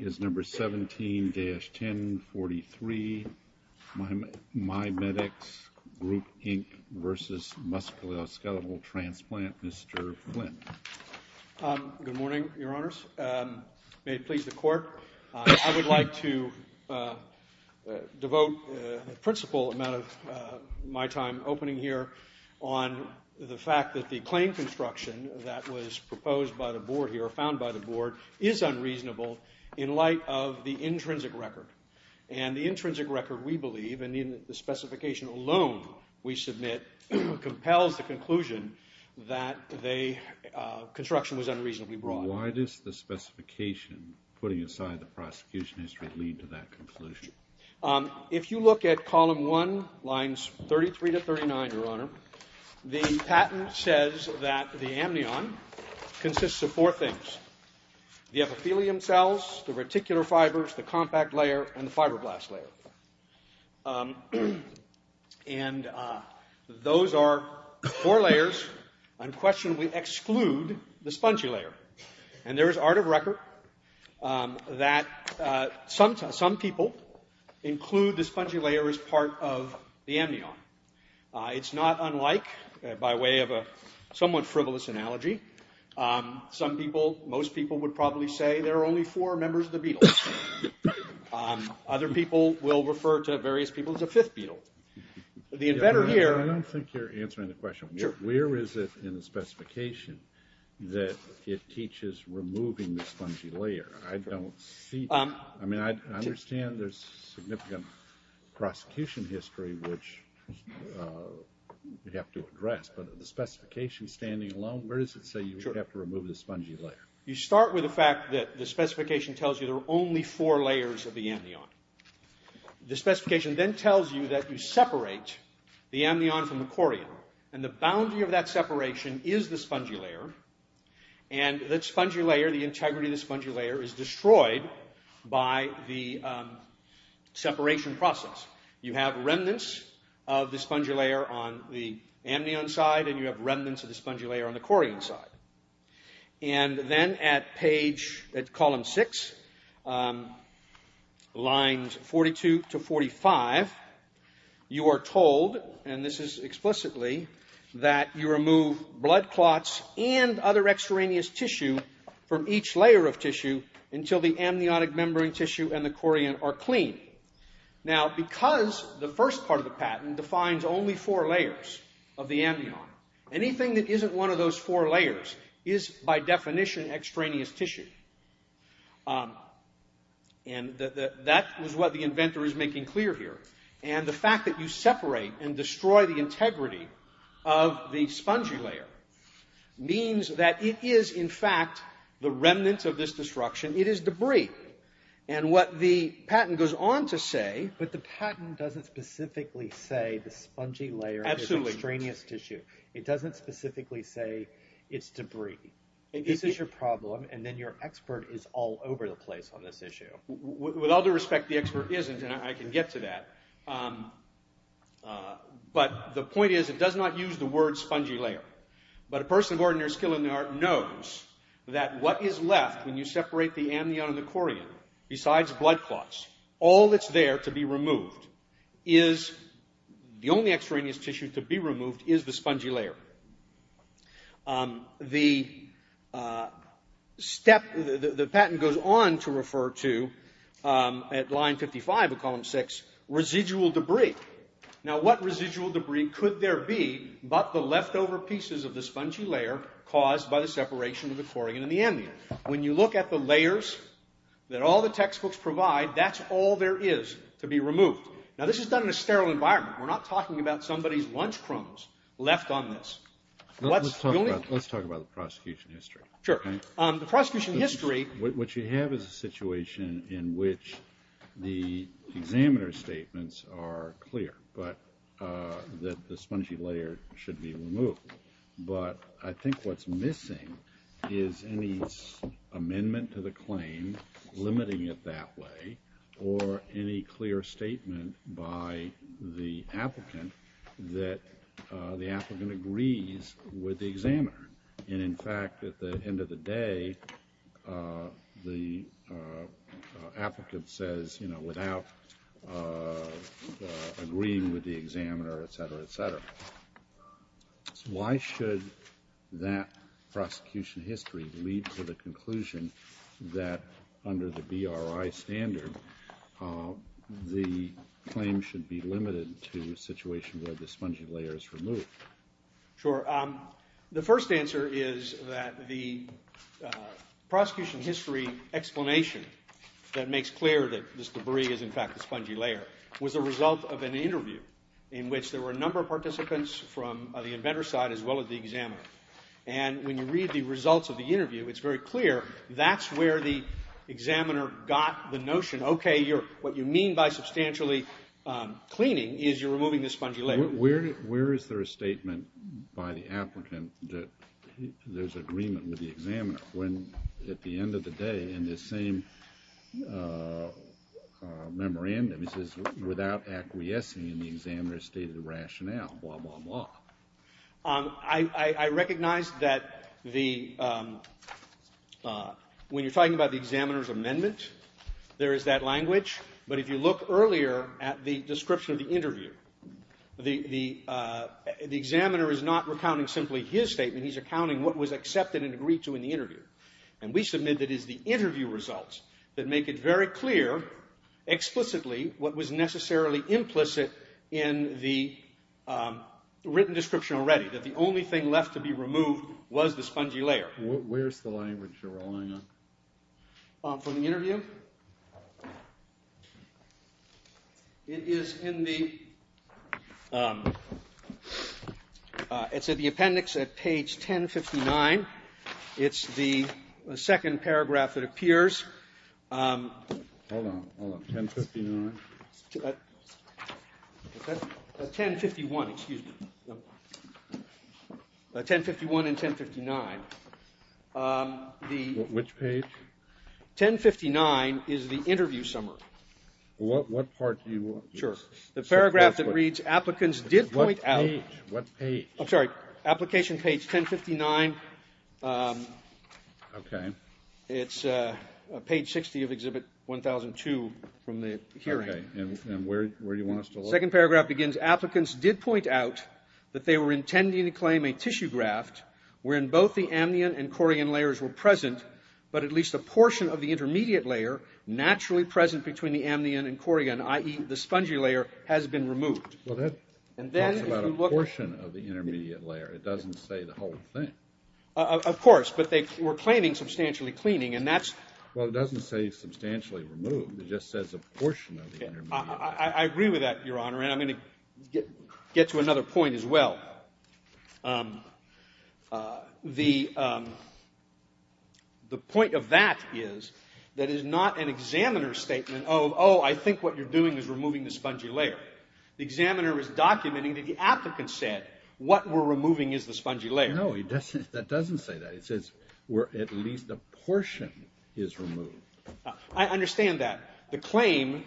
is number 17-1043, MyMedx Group, Inc. v. Musculoskeletal Transplant, Mr. Flynn. Good morning, Your Honors. May it please the Court, I would like to devote a principal amount of my time opening here on the fact that the claim construction that was proposed by the Board here, found by the Board, is unreasonable in light of the intrinsic record. And the intrinsic record, we believe, and the specification alone we submit, compels the conclusion that the construction was unreasonably broad. Why does the specification, putting aside the prosecution history, lead to that conclusion? If you look at Column 1, Lines 33-39, Your Honor, the patent says that the amnion consists of four things. The epithelium cells, the reticular fibers, the compact layer, and the fibroblast layer. And those are four layers, unquestionably exclude the spongy layer. And there is art of record that some people include the spongy layer as part of the amnion. It's not unlike, by way of a somewhat frivolous analogy, most people would probably say there are only four members of the beetle. Other people will refer to various people as a fifth beetle. I don't think you're answering the question. Where is it in the specification that it teaches removing the spongy layer? I don't see, I mean, I understand there's significant prosecution history which we have to address, but the specification standing alone, where does it say you have to remove the spongy layer? You start with the fact that the specification tells you there are only four layers of the amnion. The specification then tells you that you separate the amnion from the chorion, and the boundary of that separation is the spongy layer, and that spongy layer, the integrity of the spongy layer, is destroyed by the separation process. You have remnants of the spongy layer on the amnion side, and you have remnants of the spongy layer on the chorion side. And then at page, at column six, lines 42 to 45, you are told, and this is explicitly, that you remove blood clots and other extraneous tissue from each layer of tissue until the amniotic membrane tissue and the chorion are clean. Now, because the first part of the patent defines only four layers of the amnion, anything that isn't one of those four layers is, by definition, extraneous tissue. And that is what the inventor is making clear here. And the fact that you separate and destroy the integrity of the spongy layer means that it is, in fact, the remnants of this destruction. It is debris. And what the patent goes on to say— But the patent doesn't specifically say the spongy layer is extraneous tissue. It doesn't specifically say it's debris. This is your problem, and then your expert is all over the place on this issue. With all due respect, the expert isn't, and I can get to that. But the point is, it does not use the word spongy layer. But a person of ordinary skill in the art knows that what is left when you separate the amnion and the chorion, besides blood clots, all that's there to be removed is—the only extraneous tissue to be removed is the spongy layer. The patent goes on to refer to, at line 55 of column 6, residual debris. Now, what residual debris could there be but the leftover pieces of the spongy layer caused by the separation of the chorion and the amnion? When you look at the layers that all the textbooks provide, that's all there is to be removed. Now, this is done in a sterile environment. We're not talking about somebody's lunch crumbs left on this. Let's talk about the prosecution history. Sure. The prosecution history— What you have is a situation in which the examiner's statements are clear that the spongy layer should be removed. But I think what's missing is any amendment to the claim limiting it that way, or any clear statement by the applicant that the applicant agrees with the examiner. And in fact, at the end of the day, the applicant says, you know, without agreeing with the examiner, et cetera, et cetera. Why should that prosecution history lead to the conclusion that, under the BRI standard, the claim should be limited to a situation where the spongy layer is removed? Sure. The first answer is that the prosecution history explanation that makes clear that this debris is in fact the spongy layer was a result of an interview in which there were a number of participants from the inventor's side as well as the examiner. And when you read the results of the interview, it's very clear that's where the examiner got the notion, okay, what you mean by substantially cleaning is you're removing the spongy layer. Where is there a statement by the applicant that there's agreement with the examiner, when, at the end of the day, in the same memorandum, it says, without acquiescing in the examiner's stated rationale, blah, blah, blah. I recognize that when you're talking about the examiner's amendment, there is that language. But if you look earlier at the description of the interview, the examiner is not recounting simply his statement. He's recounting what was accepted and agreed to in the interview. And we submit that it is the interview results that make it very clear, explicitly, what was necessarily implicit in the written description already, that the only thing left to be removed was the spongy layer. Where's the language you're relying on? From the interview? It is in the appendix at page 1059. It's the second paragraph that appears. Hold on. Hold on. 1059? 1051. Excuse me. 1051 and 1059. Which page? 1059 is the interview summary. What part do you want? Sure. The paragraph that reads, applicants did point out. What page? I'm sorry. Application page 1059. Okay. It's page 60 of Exhibit 1002 from the hearing. Okay. And where do you want us to look? The second paragraph begins, applicants did point out that they were intending to claim a tissue graft wherein both the amnion and chorion layers were present, but at least a portion of the intermediate layer, naturally present between the amnion and chorion, i.e., the spongy layer, has been removed. Well, that talks about a portion of the intermediate layer. It doesn't say the whole thing. Of course. But they were claiming substantially cleaning, and that's Well, it doesn't say substantially removed. It just says a portion of the intermediate layer. I agree with that, Your Honor, and I'm going to get to another point as well. The point of that is that it is not an examiner's statement of, oh, I think what you're doing is removing the spongy layer. The examiner is documenting that the applicant said, what we're removing is the spongy layer. No, that doesn't say that. It says where at least a portion is removed. I understand that. The claim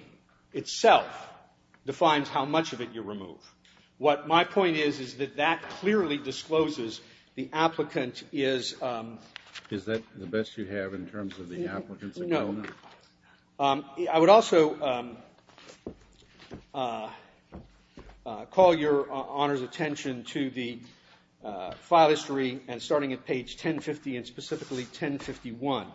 itself defines how much of it you remove. What my point is, is that that clearly discloses the applicant is Is that the best you have in terms of the applicant's account? No. I would also call Your Honor's attention to the file history and starting at page 1050 and specifically 1051.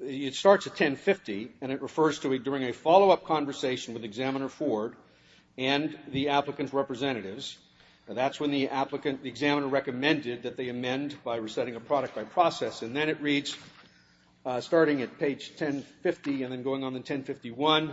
It starts at 1050, and it refers to during a follow-up conversation with Examiner Ford and the applicant's representatives. That's when the examiner recommended that they amend by resetting a product by process. And then it reads, starting at page 1050 and then going on to 1051,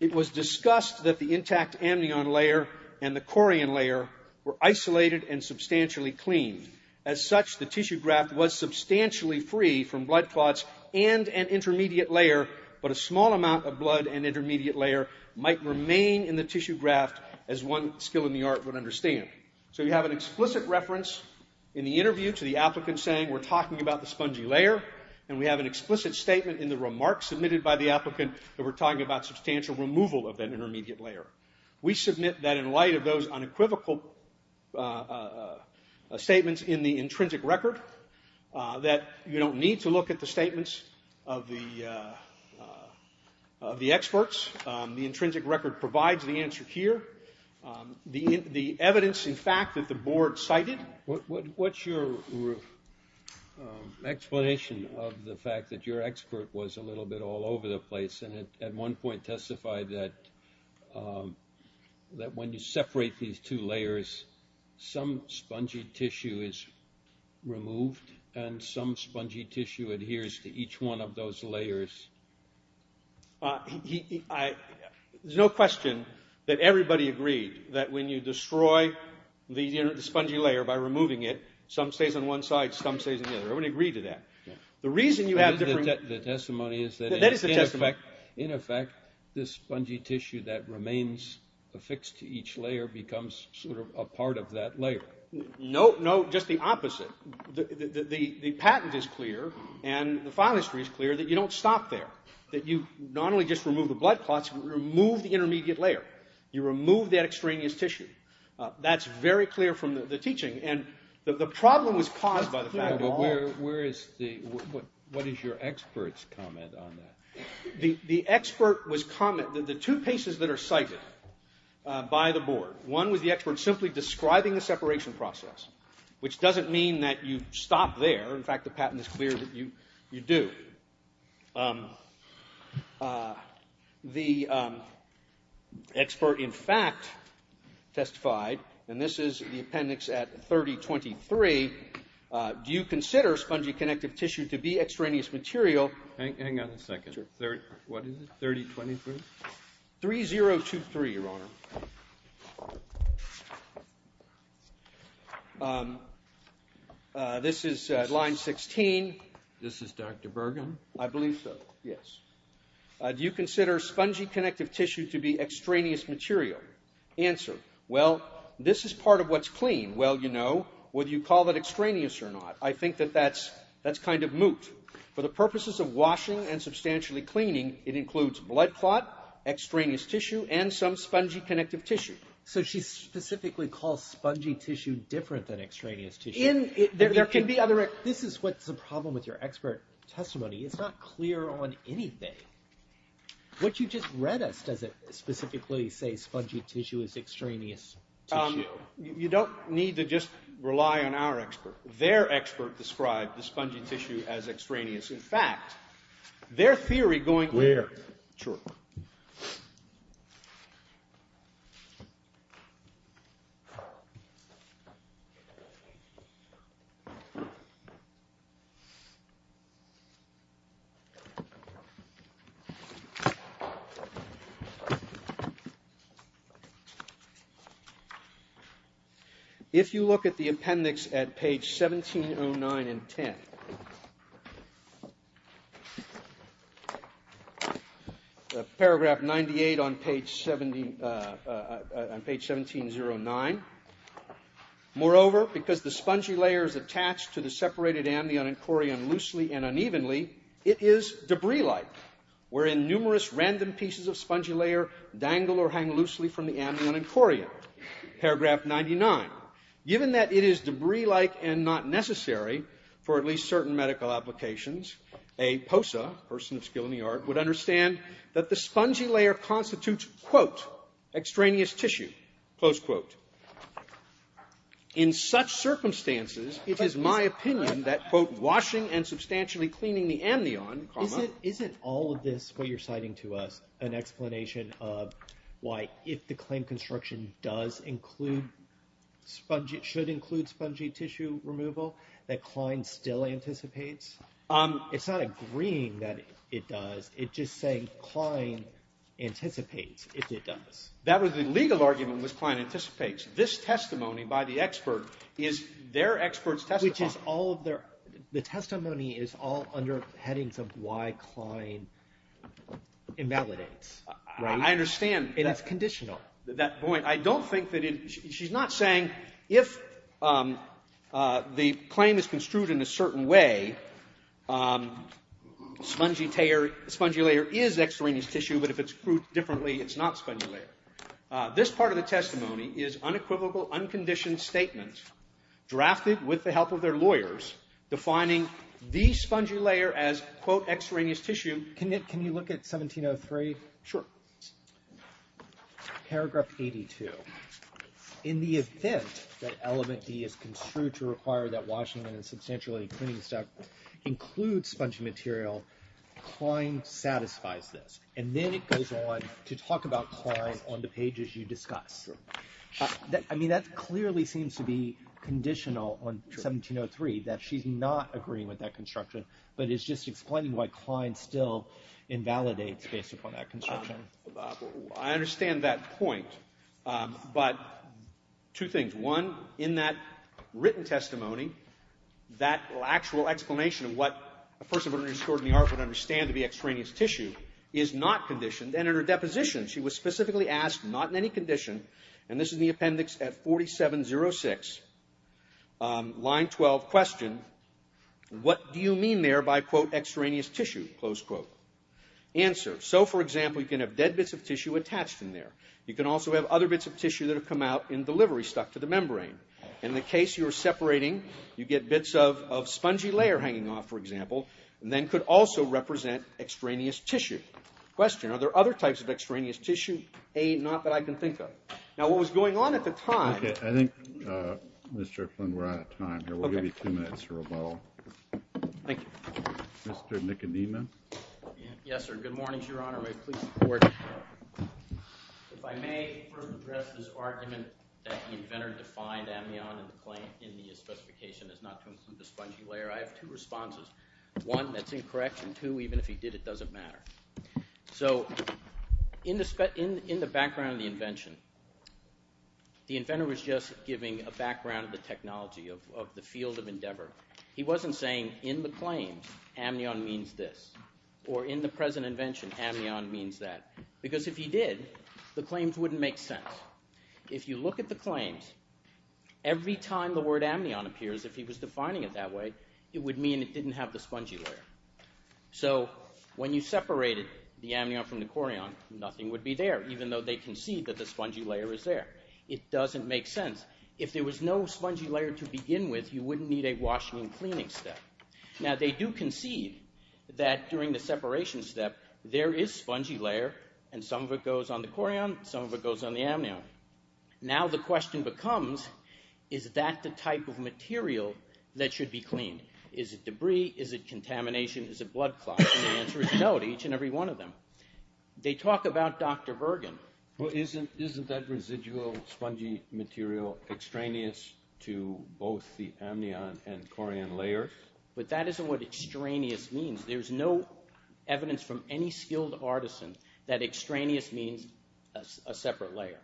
it was discussed that the intact amnion layer and the corian layer were isolated and substantially clean. As such, the tissue graft was substantially free from blood clots and an intermediate layer, but a small amount of blood and intermediate layer might remain in the tissue graft, as one skill in the art would understand. So you have an explicit reference in the interview to the applicant saying we're talking about the spongy layer, and we have an explicit statement in the remarks submitted by the applicant that we're talking about substantial removal of that intermediate layer. We submit that in light of those unequivocal statements in the intrinsic record, that you don't need to look at the statements of the experts. The intrinsic record provides the answer here. The evidence, in fact, that the board cited... What's your explanation of the fact that your expert was a little bit all over the place and at one point testified that when you separate these two layers, some spongy tissue is removed and some spongy tissue adheres to each one of those layers? There's no question that everybody agreed that when you destroy the spongy layer by removing it, some stays on one side, some stays on the other. Everybody agreed to that. The reason you have different... The testimony is that in effect this spongy tissue that remains affixed to each layer becomes sort of a part of that layer. No, just the opposite. The patent is clear and the file history is clear that you don't stop there, that you not only just remove the blood clots but remove the intermediate layer. You remove that extraneous tissue. That's very clear from the teaching. And the problem was caused by the fact that... Where is the... What is your expert's comment on that? The expert was comment... The two cases that are cited by the board, one was the expert simply describing the separation process, which doesn't mean that you stop there. In fact, the patent is clear that you do. The expert, in fact, testified, and this is the appendix at 3023, do you consider spongy connective tissue to be extraneous material... Hang on a second. What is it? 3023? 3023, Your Honor. This is line 16. This is Dr. Bergen. I believe so, yes. Do you consider spongy connective tissue to be extraneous material? Answer, well, this is part of what's clean. Well, you know, whether you call that extraneous or not, I think that that's kind of moot. For the purposes of washing and substantially cleaning, it includes blood clot, extraneous tissue, and some spongy connective tissue. So she specifically calls spongy tissue different than extraneous tissue? There can be other... This is what's the problem with your expert testimony. It's not clear on anything. What you just read us, does it specifically say spongy tissue is extraneous tissue? You don't need to just rely on our expert. Their expert described the spongy tissue as extraneous. In fact, their theory going... Clear. Sure. Thank you. If you look at the appendix at page 1709 and 10... Paragraph 98 on page 1709. Moreover, because the spongy layer is attached to the separated amnion and chorion loosely and unevenly, it is debris-like, wherein numerous random pieces of spongy layer dangle or hang loosely from the amnion and chorion. Paragraph 99. Given that it is debris-like and not necessary for at least certain medical applications, a POSA, a person of skill in the art, would understand that the spongy layer constitutes, quote, extraneous tissue, close quote. In such circumstances, it is my opinion that, quote, washing and substantially cleaning the amnion, comma... Isn't all of this, what you're citing to us, an explanation of why if the claim construction does include spongy, should include spongy tissue removal, that Klein still anticipates? It's not agreeing that it does. It's just saying Klein anticipates if it does. That was the legal argument was Klein anticipates. This testimony by the expert is their expert's testimony. Which is all of their – the testimony is all under headings of why Klein invalidates, right? I understand. And it's conditional. I don't think that it – she's not saying if the claim is construed in a certain way, spongy layer is extraneous tissue, but if it's proved differently, it's not spongy layer. This part of the testimony is unequivocal, unconditioned statement, drafted with the help of their lawyers, defining the spongy layer as, quote, extraneous tissue. Can you look at 1703? Sure. Paragraph 82. In the event that element D is construed to require that Washington and substantially cleaning stuff include spongy material, Klein satisfies this. And then it goes on to talk about Klein on the pages you discuss. I mean, that clearly seems to be conditional on 1703, that she's not agreeing with that construction, but it's just explaining why Klein still invalidates based upon that construction. I understand that point. But two things. One, in that written testimony, that actual explanation of what a person would understand to be extraneous tissue is not conditioned. And in her deposition, she was specifically asked, not in any condition, and this is the appendix at 4706, line 12, question, what do you mean there by, quote, extraneous tissue, close quote? Answer, so, for example, you can have dead bits of tissue attached in there. You can also have other bits of tissue that have come out in the livery stuck to the membrane. In the case you're separating, you get bits of spongy layer hanging off, for example, and then could also represent extraneous tissue. Question, are there other types of extraneous tissue? A, not that I can think of. Now, what was going on at the time. Okay, I think, Mr. Flynn, we're out of time here. We'll give you two minutes for rebuttal. Thank you. Mr. Nicodemus. Yes, sir. Good morning, Your Honor. May it please the Court. If I may first address this argument that the inventor defined amnion in the specification as not to include the spongy layer, I have two responses. One, that's incorrect, and two, even if he did, it doesn't matter. So in the background of the invention, the inventor was just giving a background of the technology of the field of endeavor. He wasn't saying, in the claims, amnion means this, or in the present invention, amnion means that, because if he did, the claims wouldn't make sense. If you look at the claims, every time the word amnion appears, if he was defining it that way, it would mean it didn't have the spongy layer. So when you separated the amnion from the chorion, nothing would be there, even though they concede that the spongy layer is there. It doesn't make sense. If there was no spongy layer to begin with, you wouldn't need a washing and cleaning step. Now, they do concede that during the separation step, there is spongy layer, and some of it goes on the chorion, some of it goes on the amnion. Now the question becomes, is that the type of material that should be cleaned? Is it debris? Is it contamination? Is it blood clots? And the answer is no to each and every one of them. They talk about Dr. Bergen. Well, isn't that residual spongy material extraneous to both the amnion and chorion layer? But that isn't what extraneous means. There's no evidence from any skilled artisan that extraneous means a separate layer.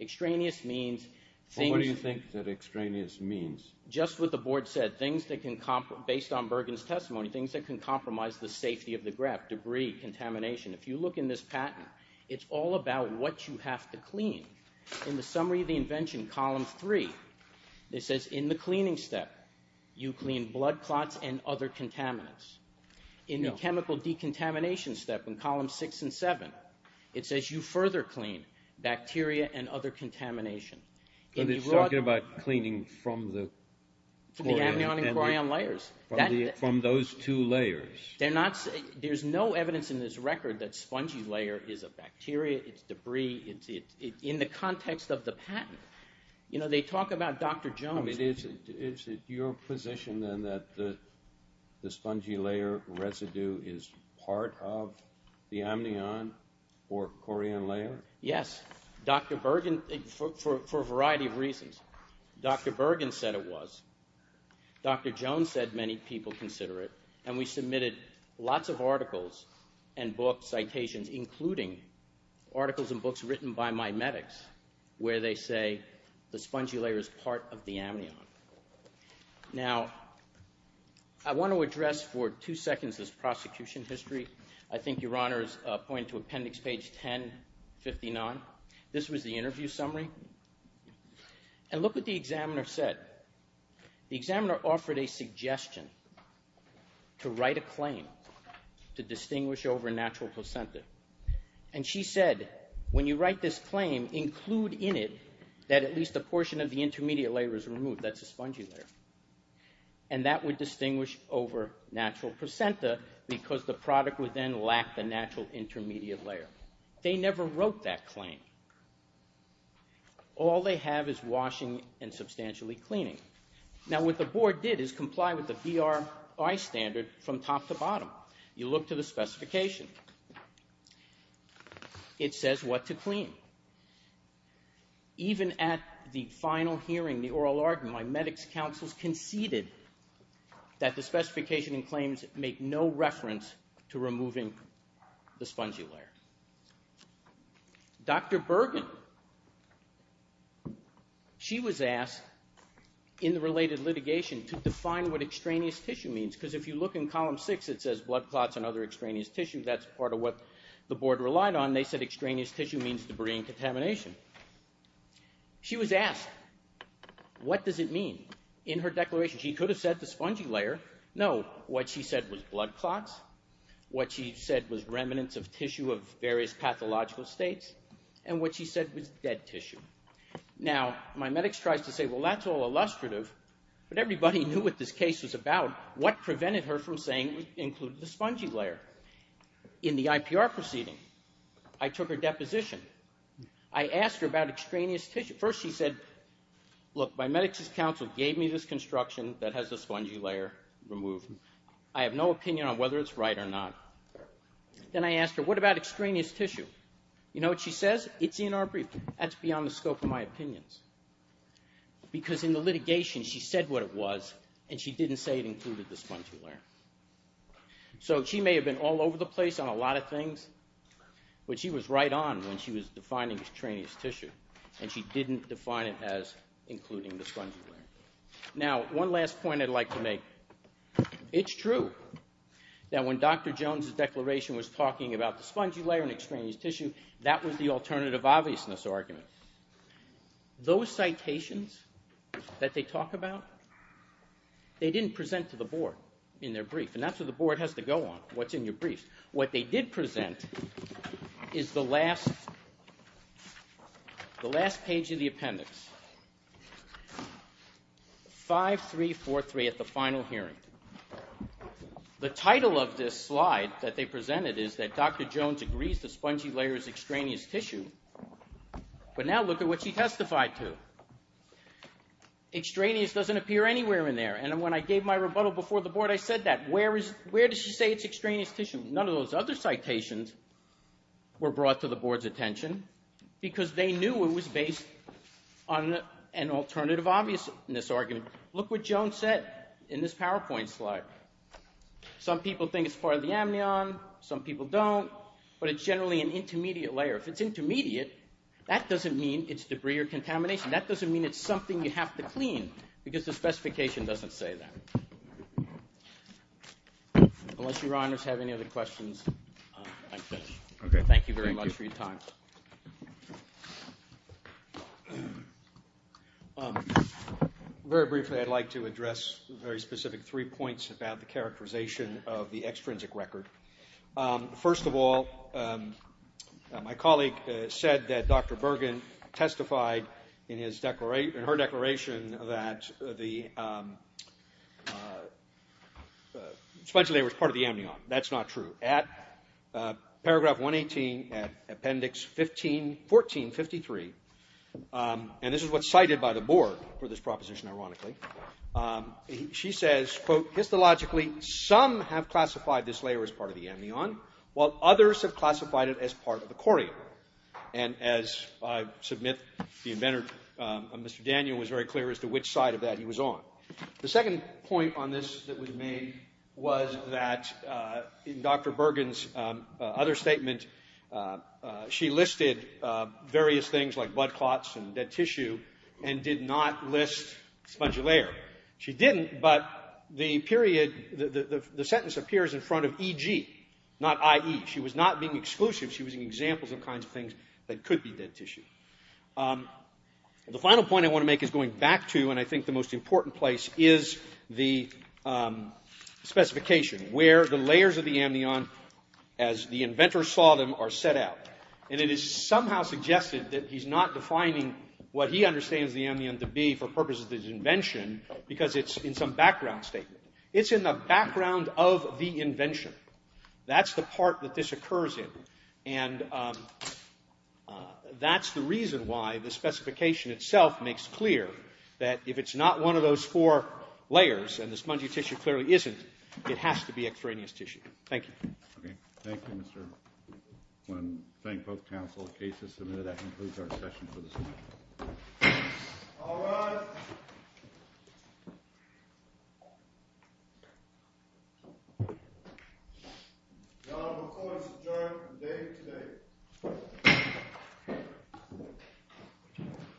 Extraneous means things... Well, what do you think that extraneous means? Just what the board said, things that can, based on Bergen's testimony, things that can compromise the safety of the grep, debris, contamination. If you look in this patent, it's all about what you have to clean. In the summary of the invention, column three, it says in the cleaning step, you clean blood clots and other contaminants. In the chemical decontamination step, in column six and seven, it says you further clean bacteria and other contamination. But it's talking about cleaning from the... From the amnion and chorion layers. From those two layers. There's no evidence in this record that spongy layer is a bacteria, it's debris. In the context of the patent, they talk about Dr. Jones. Is it your position then that the spongy layer residue is part of the amnion or chorion layer? Yes, Dr. Bergen, for a variety of reasons. Dr. Bergen said it was. Dr. Jones said many people consider it, and we submitted lots of articles and book citations, including articles and books written by my medics, where they say the spongy layer is part of the amnion. Now, I want to address for two seconds this prosecution history. I think Your Honor's point to appendix page 1059. This was the interview summary. And look what the examiner said. The examiner offered a suggestion to write a claim to distinguish over natural placenta. And she said, when you write this claim, include in it that at least a portion of the intermediate layer is removed. That's the spongy layer. And that would distinguish over natural placenta because the product would then lack the natural intermediate layer. They never wrote that claim. All they have is washing and substantially cleaning. Now, what the board did is comply with the BRI standard from top to bottom. You look to the specification. It says what to clean. Even at the final hearing, the oral argument, my medics' counsels conceded that the specification and claims make no reference to removing the spongy layer. Dr. Bergen, she was asked in the related litigation to define what extraneous tissue means because if you look in column 6, it says blood clots and other extraneous tissue. That's part of what the board relied on. They said extraneous tissue means debris and contamination. She was asked, what does it mean? In her declaration, she could have said the spongy layer. No, what she said was blood clots, what she said was remnants of tissue of various pathological states, and what she said was dead tissue. Now, my medics tries to say, well, that's all illustrative, but everybody knew what this case was about. What prevented her from saying it included the spongy layer? In the IPR proceeding, I took her deposition. I asked her about extraneous tissue. First she said, look, my medics' counsel gave me this construction that has the spongy layer removed. I have no opinion on whether it's right or not. Then I asked her, what about extraneous tissue? You know what she says? It's in our briefing. That's beyond the scope of my opinions because in the litigation, she said what it was and she didn't say it included the spongy layer. So she may have been all over the place on a lot of things, but she was right on when she was defining extraneous tissue and she didn't define it as including the spongy layer. Now, one last point I'd like to make. It's true that when Dr. Jones' declaration was talking about the spongy layer and extraneous tissue, that was the alternative obviousness argument. Those citations that they talk about, they didn't present to the board in their brief, and that's what the board has to go on, what's in your brief. What they did present is the last page of the appendix. 5343 at the final hearing. The title of this slide that they presented is that Dr. Jones agrees the spongy layer is extraneous tissue, but now look at what she testified to. Extraneous doesn't appear anywhere in there, and when I gave my rebuttal before the board, I said that. Where does she say it's extraneous tissue? None of those other citations were brought to the board's attention because they knew it was based on an alternative obviousness argument. Look what Jones said in this PowerPoint slide. Some people think it's part of the amnion, some people don't, but it's generally an intermediate layer. If it's intermediate, that doesn't mean it's debris or contamination. That doesn't mean it's something you have to clean because the specification doesn't say that. Unless your honors have any other questions, I'm finished. Thank you very much for your time. Very briefly, I'd like to address very specific three points about the characterization of the extrinsic record. First of all, my colleague said that Dr. Bergen testified in her declaration that the spongy layer was part of the amnion. That's not true. At paragraph 118, appendix 1453, and this is what's cited by the board for this proposition ironically, she says, quote, histologically, some have classified this layer as part of the amnion, while others have classified it as part of the corium. And as I submit, the inventor, Mr. Daniel, was very clear as to which side of that he was on. The second point on this that was made was that in Dr. Bergen's other statement, she listed various things like blood clots and dead tissue and did not list spongy layer. She didn't, but the sentence appears in front of EG, not IE. She was not being exclusive. She was using examples of kinds of things that could be dead tissue. The final point I want to make is going back to, and I think the most important place is the specification where the layers of the amnion, as the inventor saw them, are set out. And it is somehow suggested that he's not defining what he understands the amnion to be for purposes of his invention because it's in some background statement. It's in the background of the invention. That's the part that this occurs in, and that's the reason why the specification itself makes clear that if it's not one of those four layers, and the spongy tissue clearly isn't, it has to be extraneous tissue. Thank you. Okay. Thank you, Mr. Flynn. Thank both counsel. The case is submitted. That concludes our session for this morning. All rise. The Honorable Court is adjourned for the day today.